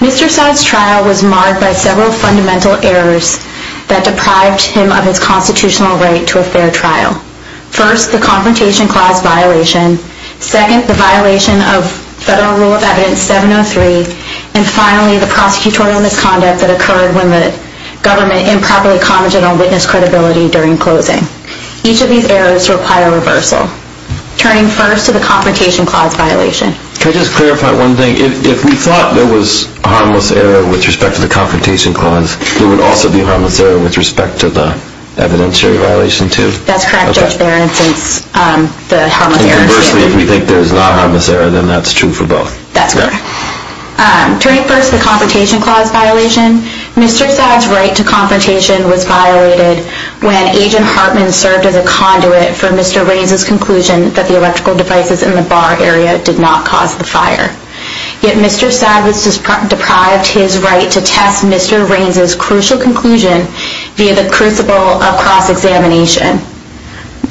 Mr. Saad's trial was marred by several fundamental errors that deprived him of his constitutional right to a fair trial. First, the Confrontation Clause violation. Second, the violation of Federal Rule of Evidence 703. And finally, the prosecutorial misconduct that occurred when the government improperly commensured on witness credibility during closing. Each of these errors require reversal, turning first to the Confrontation Clause violation. Can I just clarify one thing? If we thought there was a harmless error with respect to the Confrontation Clause, there would also be a harmless error with respect to the Evidentiary Violation, too? That's correct, Judge Barron, since the harmless error is true. And conversely, if we think there's not a harmless error, then that's true for both. That's correct. Turning first to the Confrontation Clause violation, Mr. Saad's right to confrontation was violated when Agent Hartman served as a conduit for Mr. Raines' conclusion that the electrical devices in the bar area did not cause the fire. Yet, Mr. Saad was deprived his right to test Mr. Raines' crucial conclusion via the crucible of cross-examination.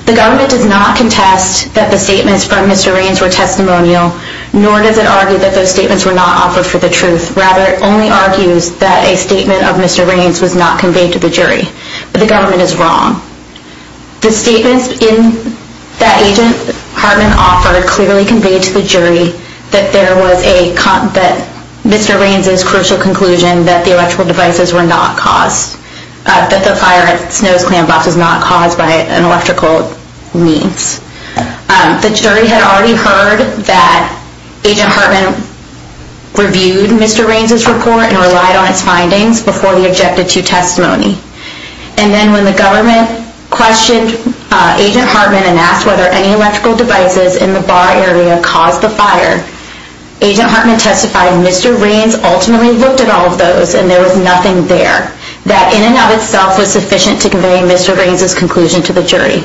The government does not contest that the statements from Mr. Raines were testimonial, nor does it argue that those statements were not offered for the truth. Rather, it only argues that a statement of Mr. Raines was not conveyed to the jury. But the government is wrong. The statements that Agent Hartman offered clearly conveyed to the jury that Mr. Raines' crucial conclusion that the electrical devices were not caused, that the fire at Snows Clam Box was not caused by an electrical means. The jury had already heard that Agent Hartman reviewed Mr. Raines' report and relied on his findings before he objected to testimony. And then when the government questioned Agent Hartman and asked whether any electrical devices in the bar area caused the fire, Agent Hartman testified that Mr. Raines ultimately looked at all of those and there was nothing there, that in and of itself was sufficient to convey Mr. Raines' conclusion to the jury.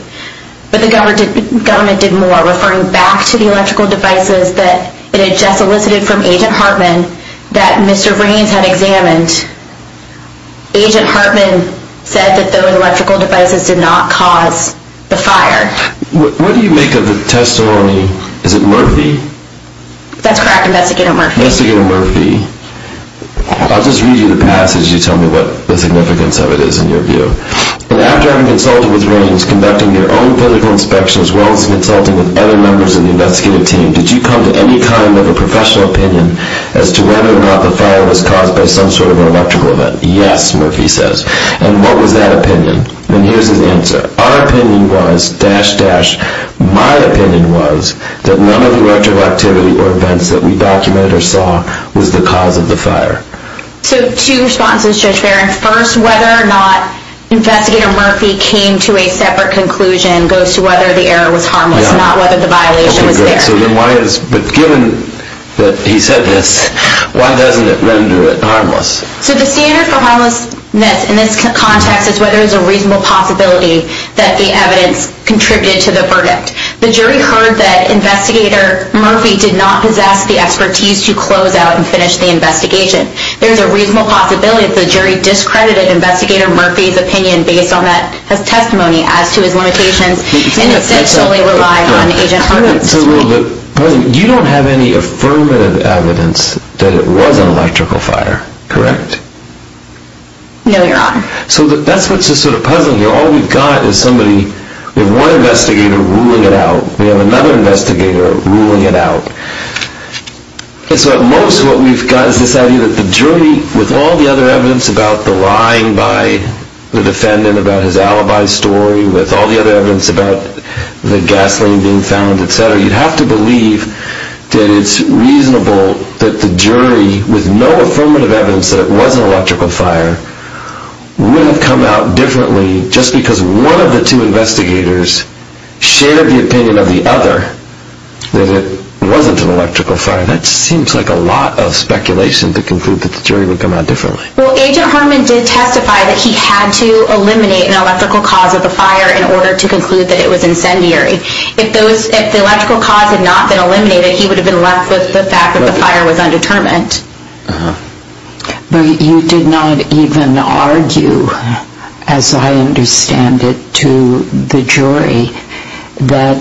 But the government did more, referring back to the electrical devices that it had just elicited from Agent Hartman that Mr. Raines had examined. And Agent Hartman said that those electrical devices did not cause the fire. What do you make of the testimony? Is it Murphy? That's correct, Investigator Murphy. Investigator Murphy. I'll just read you the passage, you tell me what the significance of it is in your view. And after having consulted with Raines, conducting your own political inspection as well as consulting with other members of the investigative team, did you come to any kind of a professional opinion as to whether or not the fire was caused by some sort of an electrical event? Yes, Murphy says. And what was that opinion? And here's his answer. Our opinion was, dash, dash, my opinion was that none of the retroactivity or events that we documented or saw was the cause of the fire. So two responses, Judge Barron. First, whether or not Investigator Murphy came to a separate conclusion goes to whether the error was harmless, not whether the violation was there. But given that he said this, why doesn't it render it harmless? So the standard for harmlessness in this context is whether there's a reasonable possibility that the evidence contributed to the verdict. The jury heard that Investigator Murphy did not possess the expertise to close out and finish the investigation. There's a reasonable possibility that the jury discredited Investigator Murphy's opinion based on that testimony as to his limitations and essentially relied on Agent Hartman's testimony. You don't have any affirmative evidence that it was an electrical fire, correct? No, Your Honor. So that's what's sort of puzzling here. All we've got is somebody with one investigator ruling it out. We have another investigator ruling it out. So at most what we've got is this idea that the jury, with all the other evidence about the lying by the defendant about his alibi story, with all the other evidence about the gasoline being found, etc., you'd have to believe that it's reasonable that the jury, with no affirmative evidence that it was an electrical fire, would have come out differently just because one of the two investigators shared the opinion of the other that it wasn't an electrical fire. That seems like a lot of speculation to conclude that the jury would come out differently. Well, Agent Hartman did testify that he had to eliminate an electrical cause of the fire in order to conclude that it was incendiary. If the electrical cause had not been eliminated, he would have been left with the fact that the fire was undetermined. But you did not even argue, as I understand it, to the jury that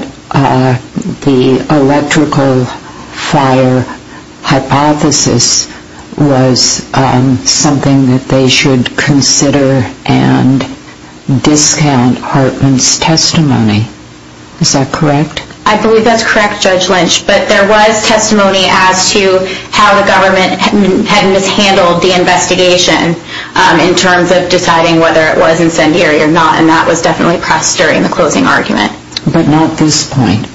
the electrical fire hypothesis was something that they should consider and discount Hartman's testimony. Is that correct? I believe that's correct, Judge Lynch. But there was testimony as to how the government had mishandled the investigation in terms of deciding whether it was incendiary or not, and that was definitely pressed during the closing argument. But not at this point?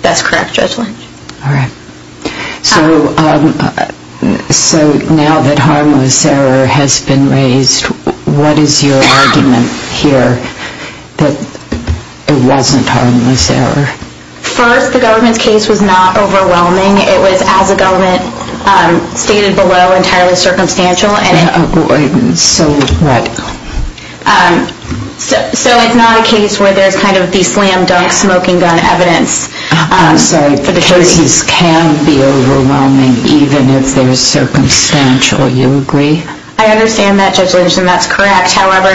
That's correct, Judge Lynch. All right. So now that harmless error has been raised, what is your argument here that it wasn't harmless error? First, the government's case was not overwhelming. It was, as the government stated below, entirely circumstantial. So what? So it's not a case where there's kind of the slam-dunk smoking gun evidence. I'm sorry. Cases can be overwhelming even if they're circumstantial. You agree? I understand that, Judge Lynch, and that's correct. However,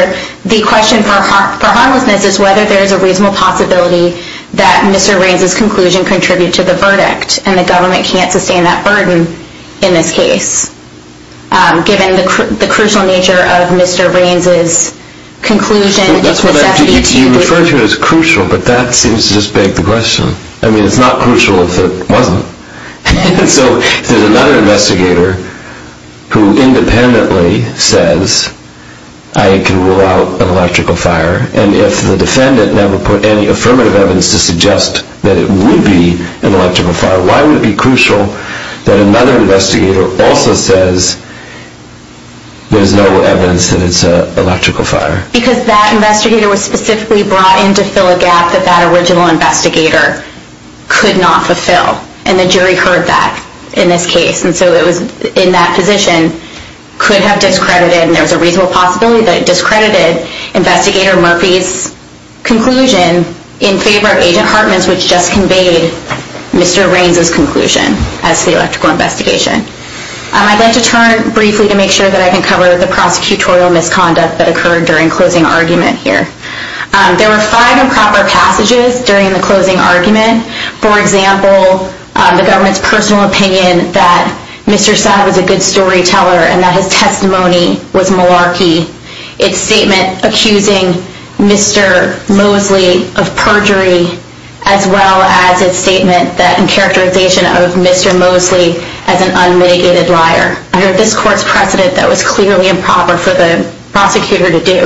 the question for harmlessness is whether there's a reasonable possibility that Mr. Raines's conclusion contributed to the verdict, and the government can't sustain that burden in this case, given the crucial nature of Mr. Raines's conclusion. You refer to it as crucial, but that seems to just beg the question. I mean, it's not crucial if it wasn't. So if there's another investigator who independently says, I can rule out an electrical fire, and if the defendant never put any affirmative evidence to suggest that it would be an electrical fire, why would it be crucial that another investigator also says there's no evidence that it's an electrical fire? Because that investigator was specifically brought in to fill a gap that that original investigator could not fulfill, and the jury heard that in this case. And so it was in that position could have discredited, and there's a reasonable possibility that it discredited, Investigator Murphy's conclusion in favor of Agent Hartman's, which just conveyed Mr. Raines's conclusion as to the electrical investigation. I'd like to turn briefly to make sure that I can cover the prosecutorial misconduct that occurred during closing argument here. There were five improper passages during the closing argument. For example, the government's personal opinion that Mr. Saab was a good storyteller and that his testimony was malarkey, its statement accusing Mr. Mosley of perjury, as well as its statement and characterization of Mr. Mosley as an unmitigated liar. Under this court's precedent, that was clearly improper for the prosecutor to do.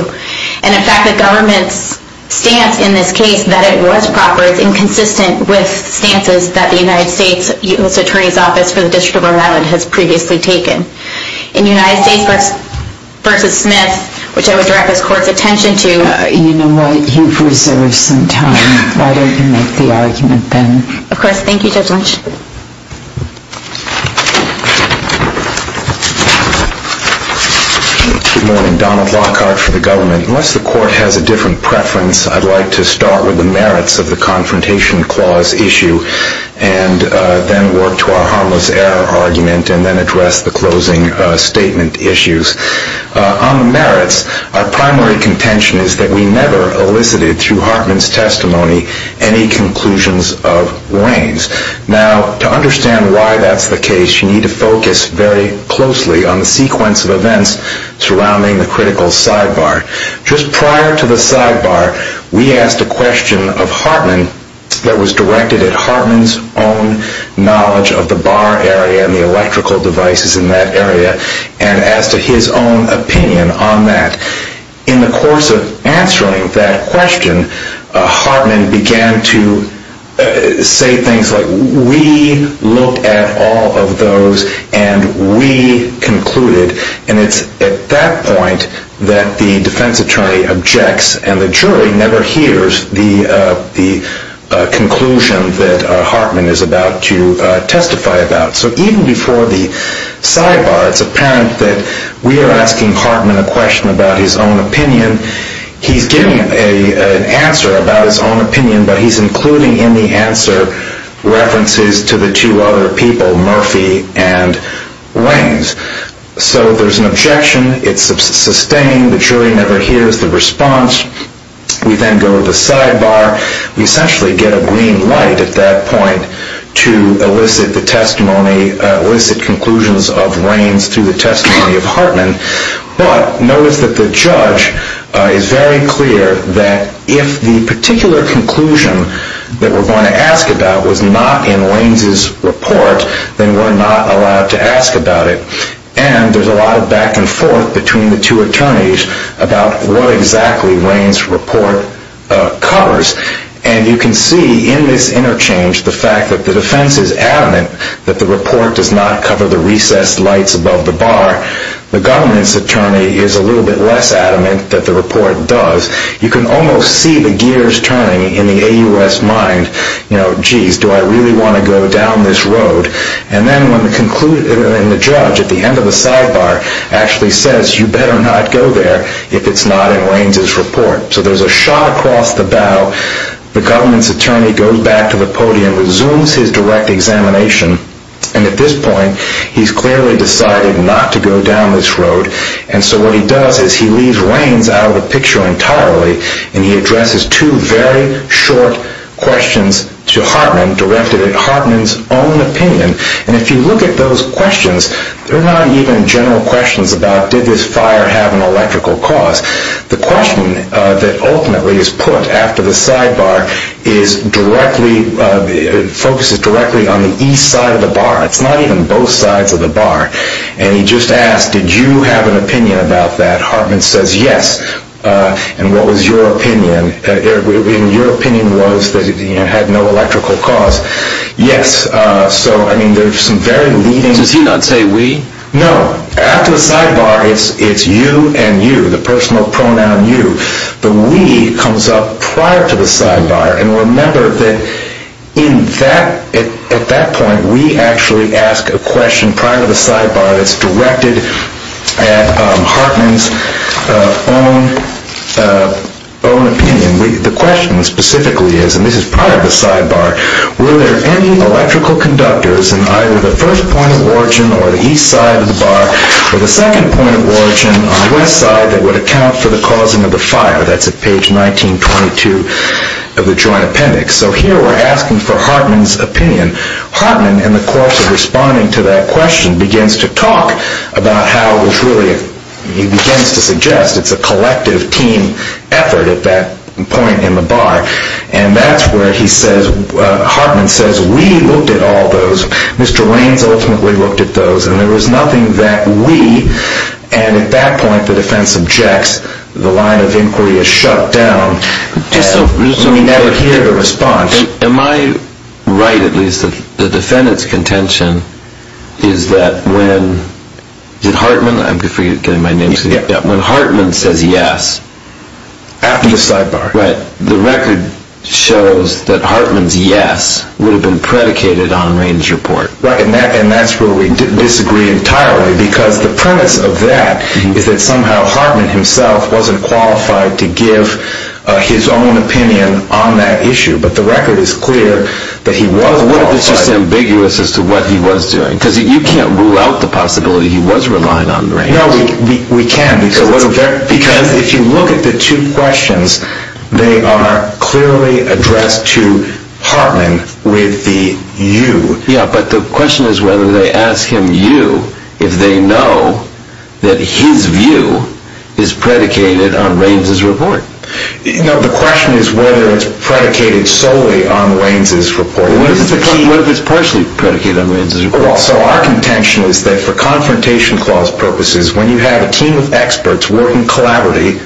And in fact, the government's stance in this case that it was proper, it's inconsistent with stances that the United States U.S. Attorney's Office for the District of Rhode Island has previously taken. In United States v. Smith, which I would direct this court's attention to. You know what? You've reserved some time. Why don't you make the argument then? Of course. Thank you, Judge Lynch. Good morning. Donald Lockhart for the government. Unless the court has a different preference, I'd like to start with the merits of the Confrontation Clause issue and then work to our Harmless Error Argument and then address the closing statement issues. On the merits, our primary contention is that we never elicited, through Hartman's testimony, any conclusions of Wayne's. Now, to understand why that's the case, you need to focus very closely on the sequence of events surrounding the critical sidebar. Just prior to the sidebar, we asked a question of Hartman that was directed at Hartman's own knowledge of the bar area and the electrical devices in that area and as to his own opinion on that. In the course of answering that question, Hartman began to say things like, we looked at all of those and we concluded. And it's at that point that the defense attorney objects and the jury never hears the conclusion that Hartman is about to testify about. So even before the sidebar, it's apparent that we are asking Hartman a question about his own opinion. He's giving an answer about his own opinion, but he's including in the answer references to the two other people, Murphy and Waynes. So there's an objection. It's sustained. The jury never hears the response. We then go to the sidebar. We essentially get a green light at that point to elicit the testimony, elicit conclusions of Wayne's through the testimony of Hartman. But notice that the judge is very clear that if the particular conclusion that we're going to ask about was not in Wayne's report, then we're not allowed to ask about it. And there's a lot of back and forth between the two attorneys about what exactly Wayne's report covers. And you can see in this interchange the fact that the defense is adamant that the report does not cover the recessed lights above the bar. The government's attorney is a little bit less adamant that the report does. You can almost see the gears turning in the AUS mind. You know, geez, do I really want to go down this road? And then when the judge at the end of the sidebar actually says, you better not go there if it's not in Wayne's report. So there's a shot across the bow. The government's attorney goes back to the podium, resumes his direct examination, and at this point he's clearly decided not to go down this road. And so what he does is he leaves Wayne's out of the picture entirely, and he addresses two very short questions to Hartman directed at Hartman's own opinion. And if you look at those questions, they're not even general questions about did this fire have an electrical cause. The question that ultimately is put after the sidebar focuses directly on the east side of the bar. It's not even both sides of the bar. And he just asks, did you have an opinion about that? Hartman says yes. And what was your opinion? And your opinion was that it had no electrical cause. Yes. So, I mean, there's some very leading... Does he not say we? No. After the sidebar, it's you and you, the personal pronoun you. The we comes up prior to the sidebar. And remember that at that point, we actually ask a question prior to the sidebar that's directed at Hartman's own opinion. The question specifically is, and this is prior to the sidebar, were there any electrical conductors in either the first point of origin or the east side of the bar or the second point of origin on the west side that would account for the causing of the fire? That's at page 1922 of the joint appendix. So here we're asking for Hartman's opinion. Hartman, in the course of responding to that question, begins to talk about how it was really, he begins to suggest, it's a collective team effort at that point in the bar. And that's where he says, Hartman says, we looked at all those. Mr. Raines ultimately looked at those. And there was nothing that we, and at that point the defense objects, the line of inquiry is shut down. We never hear the response. Am I right, at least, that the defendant's contention is that when Hartman, I'm forgetting my name, when Hartman says yes, After the sidebar. Right. The record shows that Hartman's yes would have been predicated on Raines' report. Right, and that's where we disagree entirely because the premise of that is that somehow Hartman himself wasn't qualified to give his own opinion on that issue. But the record is clear that he was qualified. What if it's just ambiguous as to what he was doing? Because you can't rule out the possibility he was relying on Raines. No, we can't. Because if you look at the two questions, they are clearly addressed to Hartman with the you. Yeah, but the question is whether they ask him you if they know that his view is predicated on Raines' report. No, the question is whether it's predicated solely on Raines' report. What if it's partially predicated on Raines' report? So our contention is that for confrontation clause purposes, when you have a team of experts working collaboratively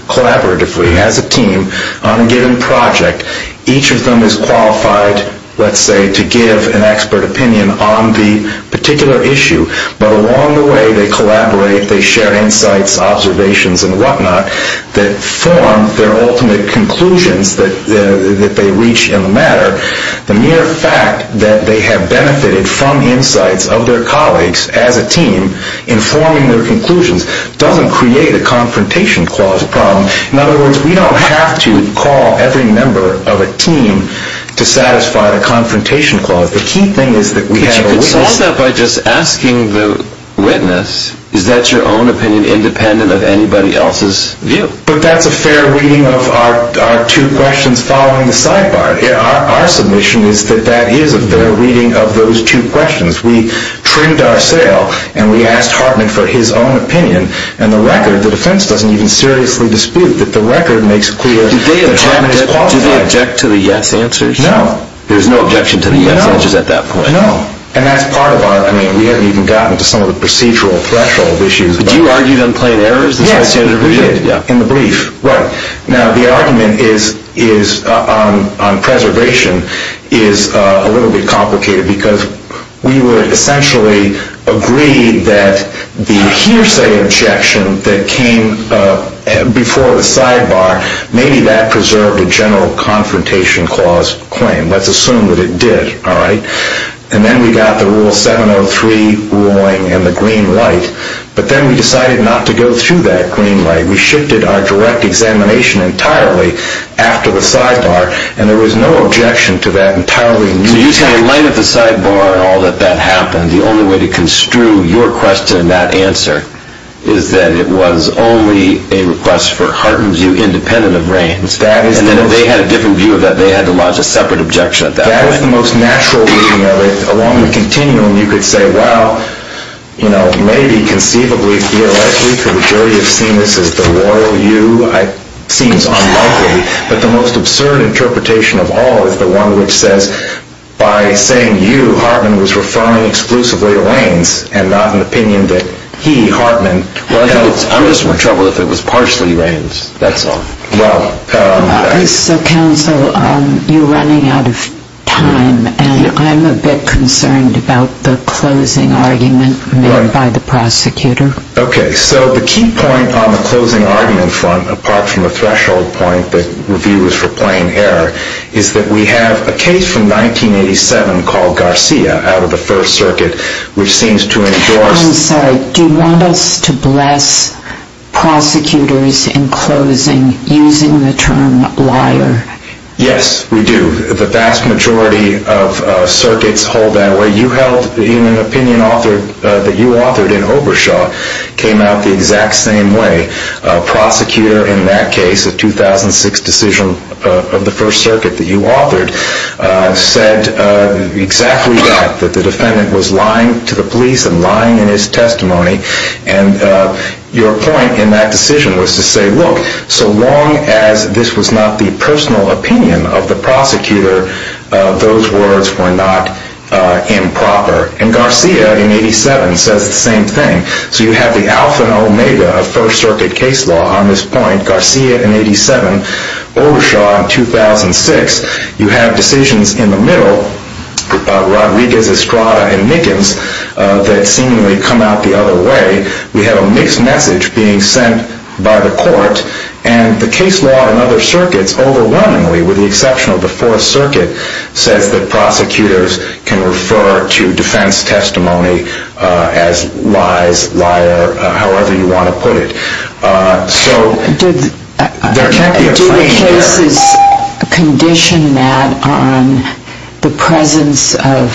as a team on a given project, each of them is qualified, let's say, to give an expert opinion on the particular issue. But along the way, they collaborate, they share insights, observations, and whatnot that form their ultimate conclusions that they reach in the matter. The mere fact that they have benefited from insights of their colleagues as a team in forming their conclusions doesn't create a confrontation clause problem. In other words, we don't have to call every member of a team to satisfy the confrontation clause. The key thing is that we have a witness. But that's a fair reading of our two questions following the sidebar. Our submission is that that is a fair reading of those two questions. We trimmed our sale and we asked Hartman for his own opinion, and the record, the defense doesn't even seriously dispute that the record makes clear that Hartman is qualified. Do they object to the yes answers? No. There's no objection to the yes answers at that point? No, and that's part of our, I mean, we haven't even gotten to some of the procedural threshold issues. Did you argue them plain errors? Yes, we did, in the brief. Right. Now, the argument on preservation is a little bit complicated because we would essentially agree that the hearsay objection that came before the sidebar, maybe that preserved a general confrontation clause claim. Let's assume that it did, all right? And then we got the Rule 703 ruling and the green light. But then we decided not to go through that green light. We shifted our direct examination entirely after the sidebar, and there was no objection to that entirely. So you say in light of the sidebar and all that that happened, the only way to construe your question and that answer is that it was only a request for Hartman's view independent of Rand's. And then if they had a different view of that, they had to lodge a separate objection at that point. That is the most natural reading of it. Along the continuum, you could say, well, you know, maybe conceivably, theoretically, could the jury have seen this as the royal you? It seems unlikely. But the most absurd interpretation of all is the one which says by saying you, Hartman was referring exclusively to Raines and not an opinion that he, Hartman, held. I'm just more troubled if it was partially Raines. That's all. So, counsel, you're running out of time, and I'm a bit concerned about the closing argument made by the prosecutor. Okay. So the key point on the closing argument front, apart from the threshold point that review is for plain error, is that we have a case from 1987 called Garcia out of the First Circuit which seems to endorse I'm sorry. Do you want us to bless prosecutors in closing using the term liar? Yes, we do. The vast majority of circuits hold that way. You held an opinion that you authored in Obershaw came out the exact same way. A prosecutor in that case, a 2006 decision of the First Circuit that you authored, said exactly that, that the defendant was lying to the police and lying in his testimony. And your point in that decision was to say, look, so long as this was not the personal opinion of the prosecutor, those words were not improper. And Garcia in 87 says the same thing. So you have the alpha and omega of First Circuit case law on this point. Garcia in 87. Obershaw in 2006. You have decisions in the middle, Rodriguez, Estrada, and Mickens, that seemingly come out the other way. We have a mixed message being sent by the court. And the case law in other circuits overwhelmingly, with the exception of the Fourth Circuit, says that prosecutors can refer to defense testimony as lies, liar, however you want to put it. So there can't be a frame here. Did the cases condition that on the presence of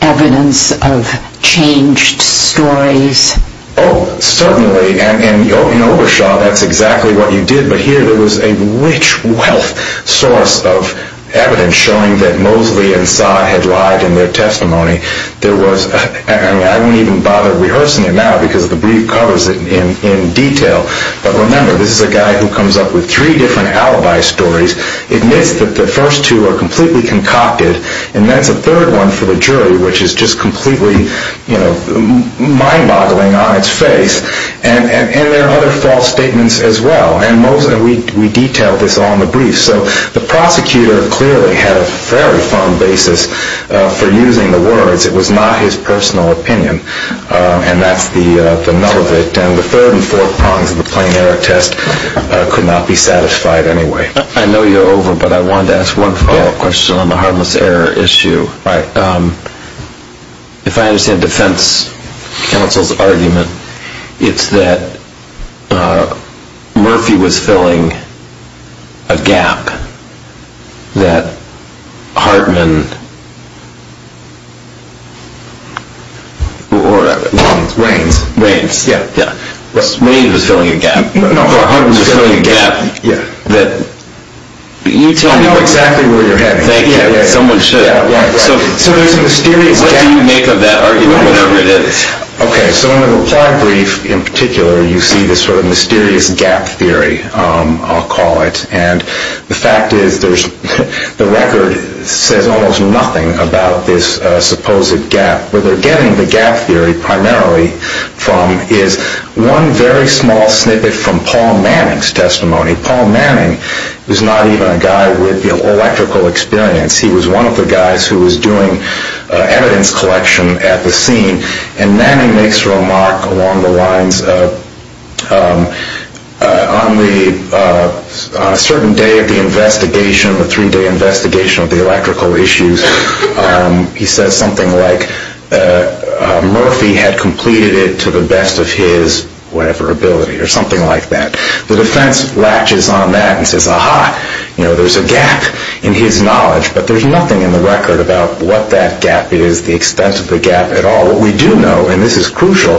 evidence of changed stories? Oh, certainly. And in Obershaw, that's exactly what you did. But here there was a rich, wealth source of evidence showing that Mosley and Saad had lied in their testimony. I won't even bother rehearsing it now because the brief covers it in detail. But remember, this is a guy who comes up with three different alibi stories, admits that the first two are completely concocted, and that's a third one for the jury, which is just completely mind-boggling on its face. And there are other false statements as well. And we detail this all in the brief. So the prosecutor clearly had a very fond basis for using the words. It was not his personal opinion, and that's the null of it. And the third and fourth prongs of the plain error test could not be satisfied anyway. I know you're over, but I wanted to ask one follow-up question on the harmless error issue. If I understand the defense counsel's argument, it's that Murphy was filling a gap that Hartman... Reins. Reins, yeah. Reins was filling a gap. Hartman was filling a gap that... I know exactly where you're heading. So there's a mysterious gap... What do you make of that argument, whatever it is? Okay, so in the reply brief in particular, you see this sort of mysterious gap theory, I'll call it. And the fact is the record says almost nothing about this supposed gap. Where they're getting the gap theory primarily from is one very small snippet from Paul Manning's testimony. Paul Manning was not even a guy with electrical experience. He was one of the guys who was doing evidence collection at the scene. And Manning makes a remark along the lines of, on a certain day of the investigation, the three-day investigation of the electrical issues, he says something like Murphy had completed it to the best of his whatever ability or something like that. The defense latches on that and says, aha, there's a gap in his knowledge. But there's nothing in the record about what that gap is, the extent of the gap at all. What we do know, and this is crucial,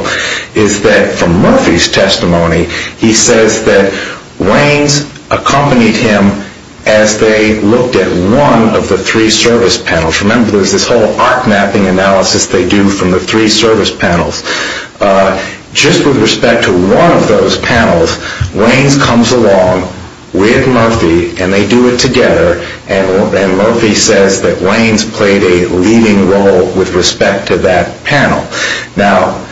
is that from Murphy's testimony, he says that Reins accompanied him as they looked at one of the three service panels. Remember, there's this whole arc mapping analysis they do from the three service panels. Just with respect to one of those panels, Reins comes along with Murphy and they do it together. And Murphy says that Reins played a leading role with respect to that panel. Now,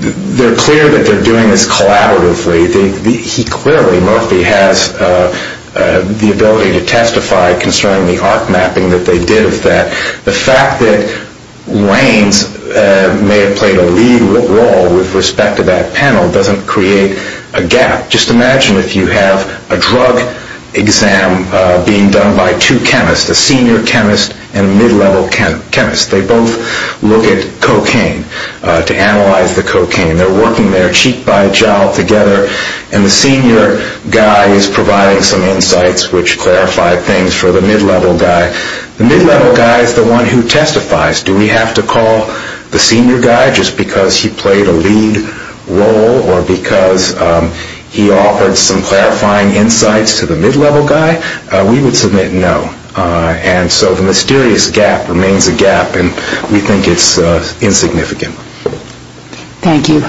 they're clear that they're doing this collaboratively. He clearly, Murphy, has the ability to testify concerning the arc mapping that they did of that. The fact that Reins may have played a leading role with respect to that panel doesn't create a gap. Just imagine if you have a drug exam being done by two chemists, a senior chemist and a mid-level chemist. They both look at cocaine to analyze the cocaine. They're working their cheek by jowl together. And the senior guy is providing some insights which clarify things for the mid-level guy. The mid-level guy is the one who testifies. Do we have to call the senior guy just because he played a lead role or because he offered some clarifying insights to the mid-level guy? We would submit no. And so the mysterious gap remains a gap and we think it's insignificant. Thank you.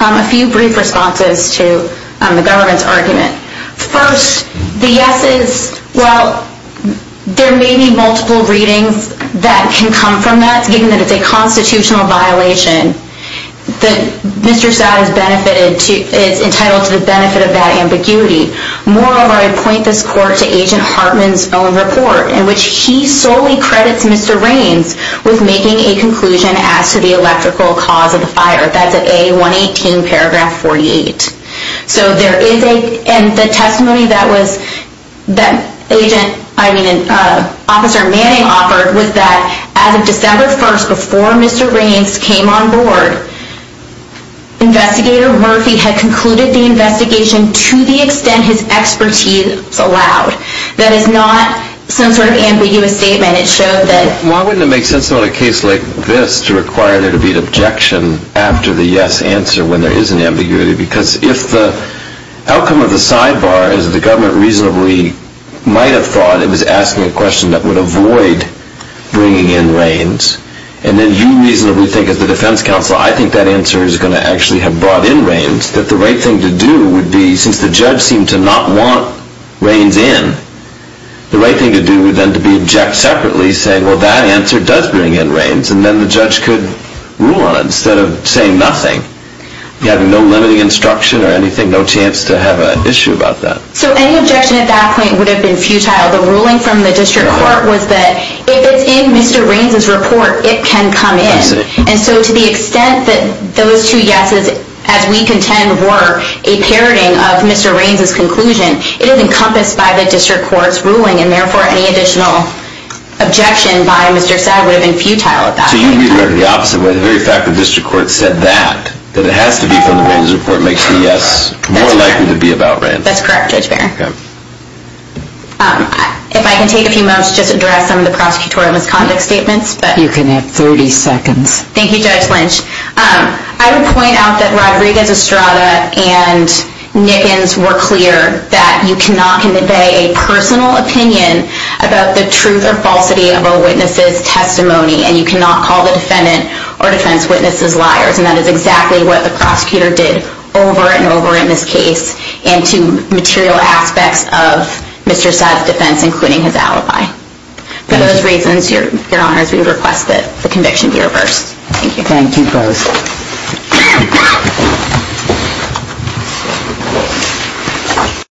A few brief responses to the government's argument. First, the yeses, well, there may be multiple readings that can come from that. But given that it's a constitutional violation, Mr. Stout is entitled to the benefit of that ambiguity. Moreover, I point this court to Agent Hartman's own report in which he solely credits Mr. Reins with making a conclusion as to the electrical cause of the fire. That's at A118 paragraph 48. So there is a testimony that Agent, I mean, Officer Manning offered was that as of December 1st before Mr. Reins came on board, Investigator Murphy had concluded the investigation to the extent his expertise allowed. That is not some sort of ambiguous statement. It showed that why wouldn't it make sense on a case like this to require there to be an objection after the yes answer when there is an ambiguity? Because if the outcome of the sidebar is that the government reasonably might have thought it was asking a question that would avoid bringing in Reins, and then you reasonably think as the defense counsel, I think that answer is going to actually have brought in Reins, that the right thing to do would be, since the judge seemed to not want Reins in, the right thing to do would then be to object separately, saying, well, that answer does bring in Reins, and then the judge could rule on it instead of saying nothing, having no limiting instruction or anything, no chance to have an issue about that. So any objection at that point would have been futile. The ruling from the district court was that if it's in Mr. Reins' report, it can come in. And so to the extent that those two yeses, as we contend, were a parroting of Mr. Reins' conclusion, it is encompassed by the district court's ruling, and therefore any additional objection by Mr. Saad would have been futile at that point. So you would regard it the opposite way, the very fact the district court said that, that it has to be from the Reins' report makes the yes more likely to be about Reins. That's correct, Judge Barron. If I can take a few moments to just address some of the prosecutorial misconduct statements. You can have 30 seconds. Thank you, Judge Lynch. I would point out that Rodriguez-Estrada and Nickens were clear that you cannot convey a personal opinion about the truth or falsity of a witness's testimony, and you cannot call the defendant or defense witnesses liars. And that is exactly what the prosecutor did over and over in this case and to material aspects of Mr. Saad's defense, including his alibi. For those reasons, Your Honors, we would request that the conviction be reversed. Thank you. Thank you both.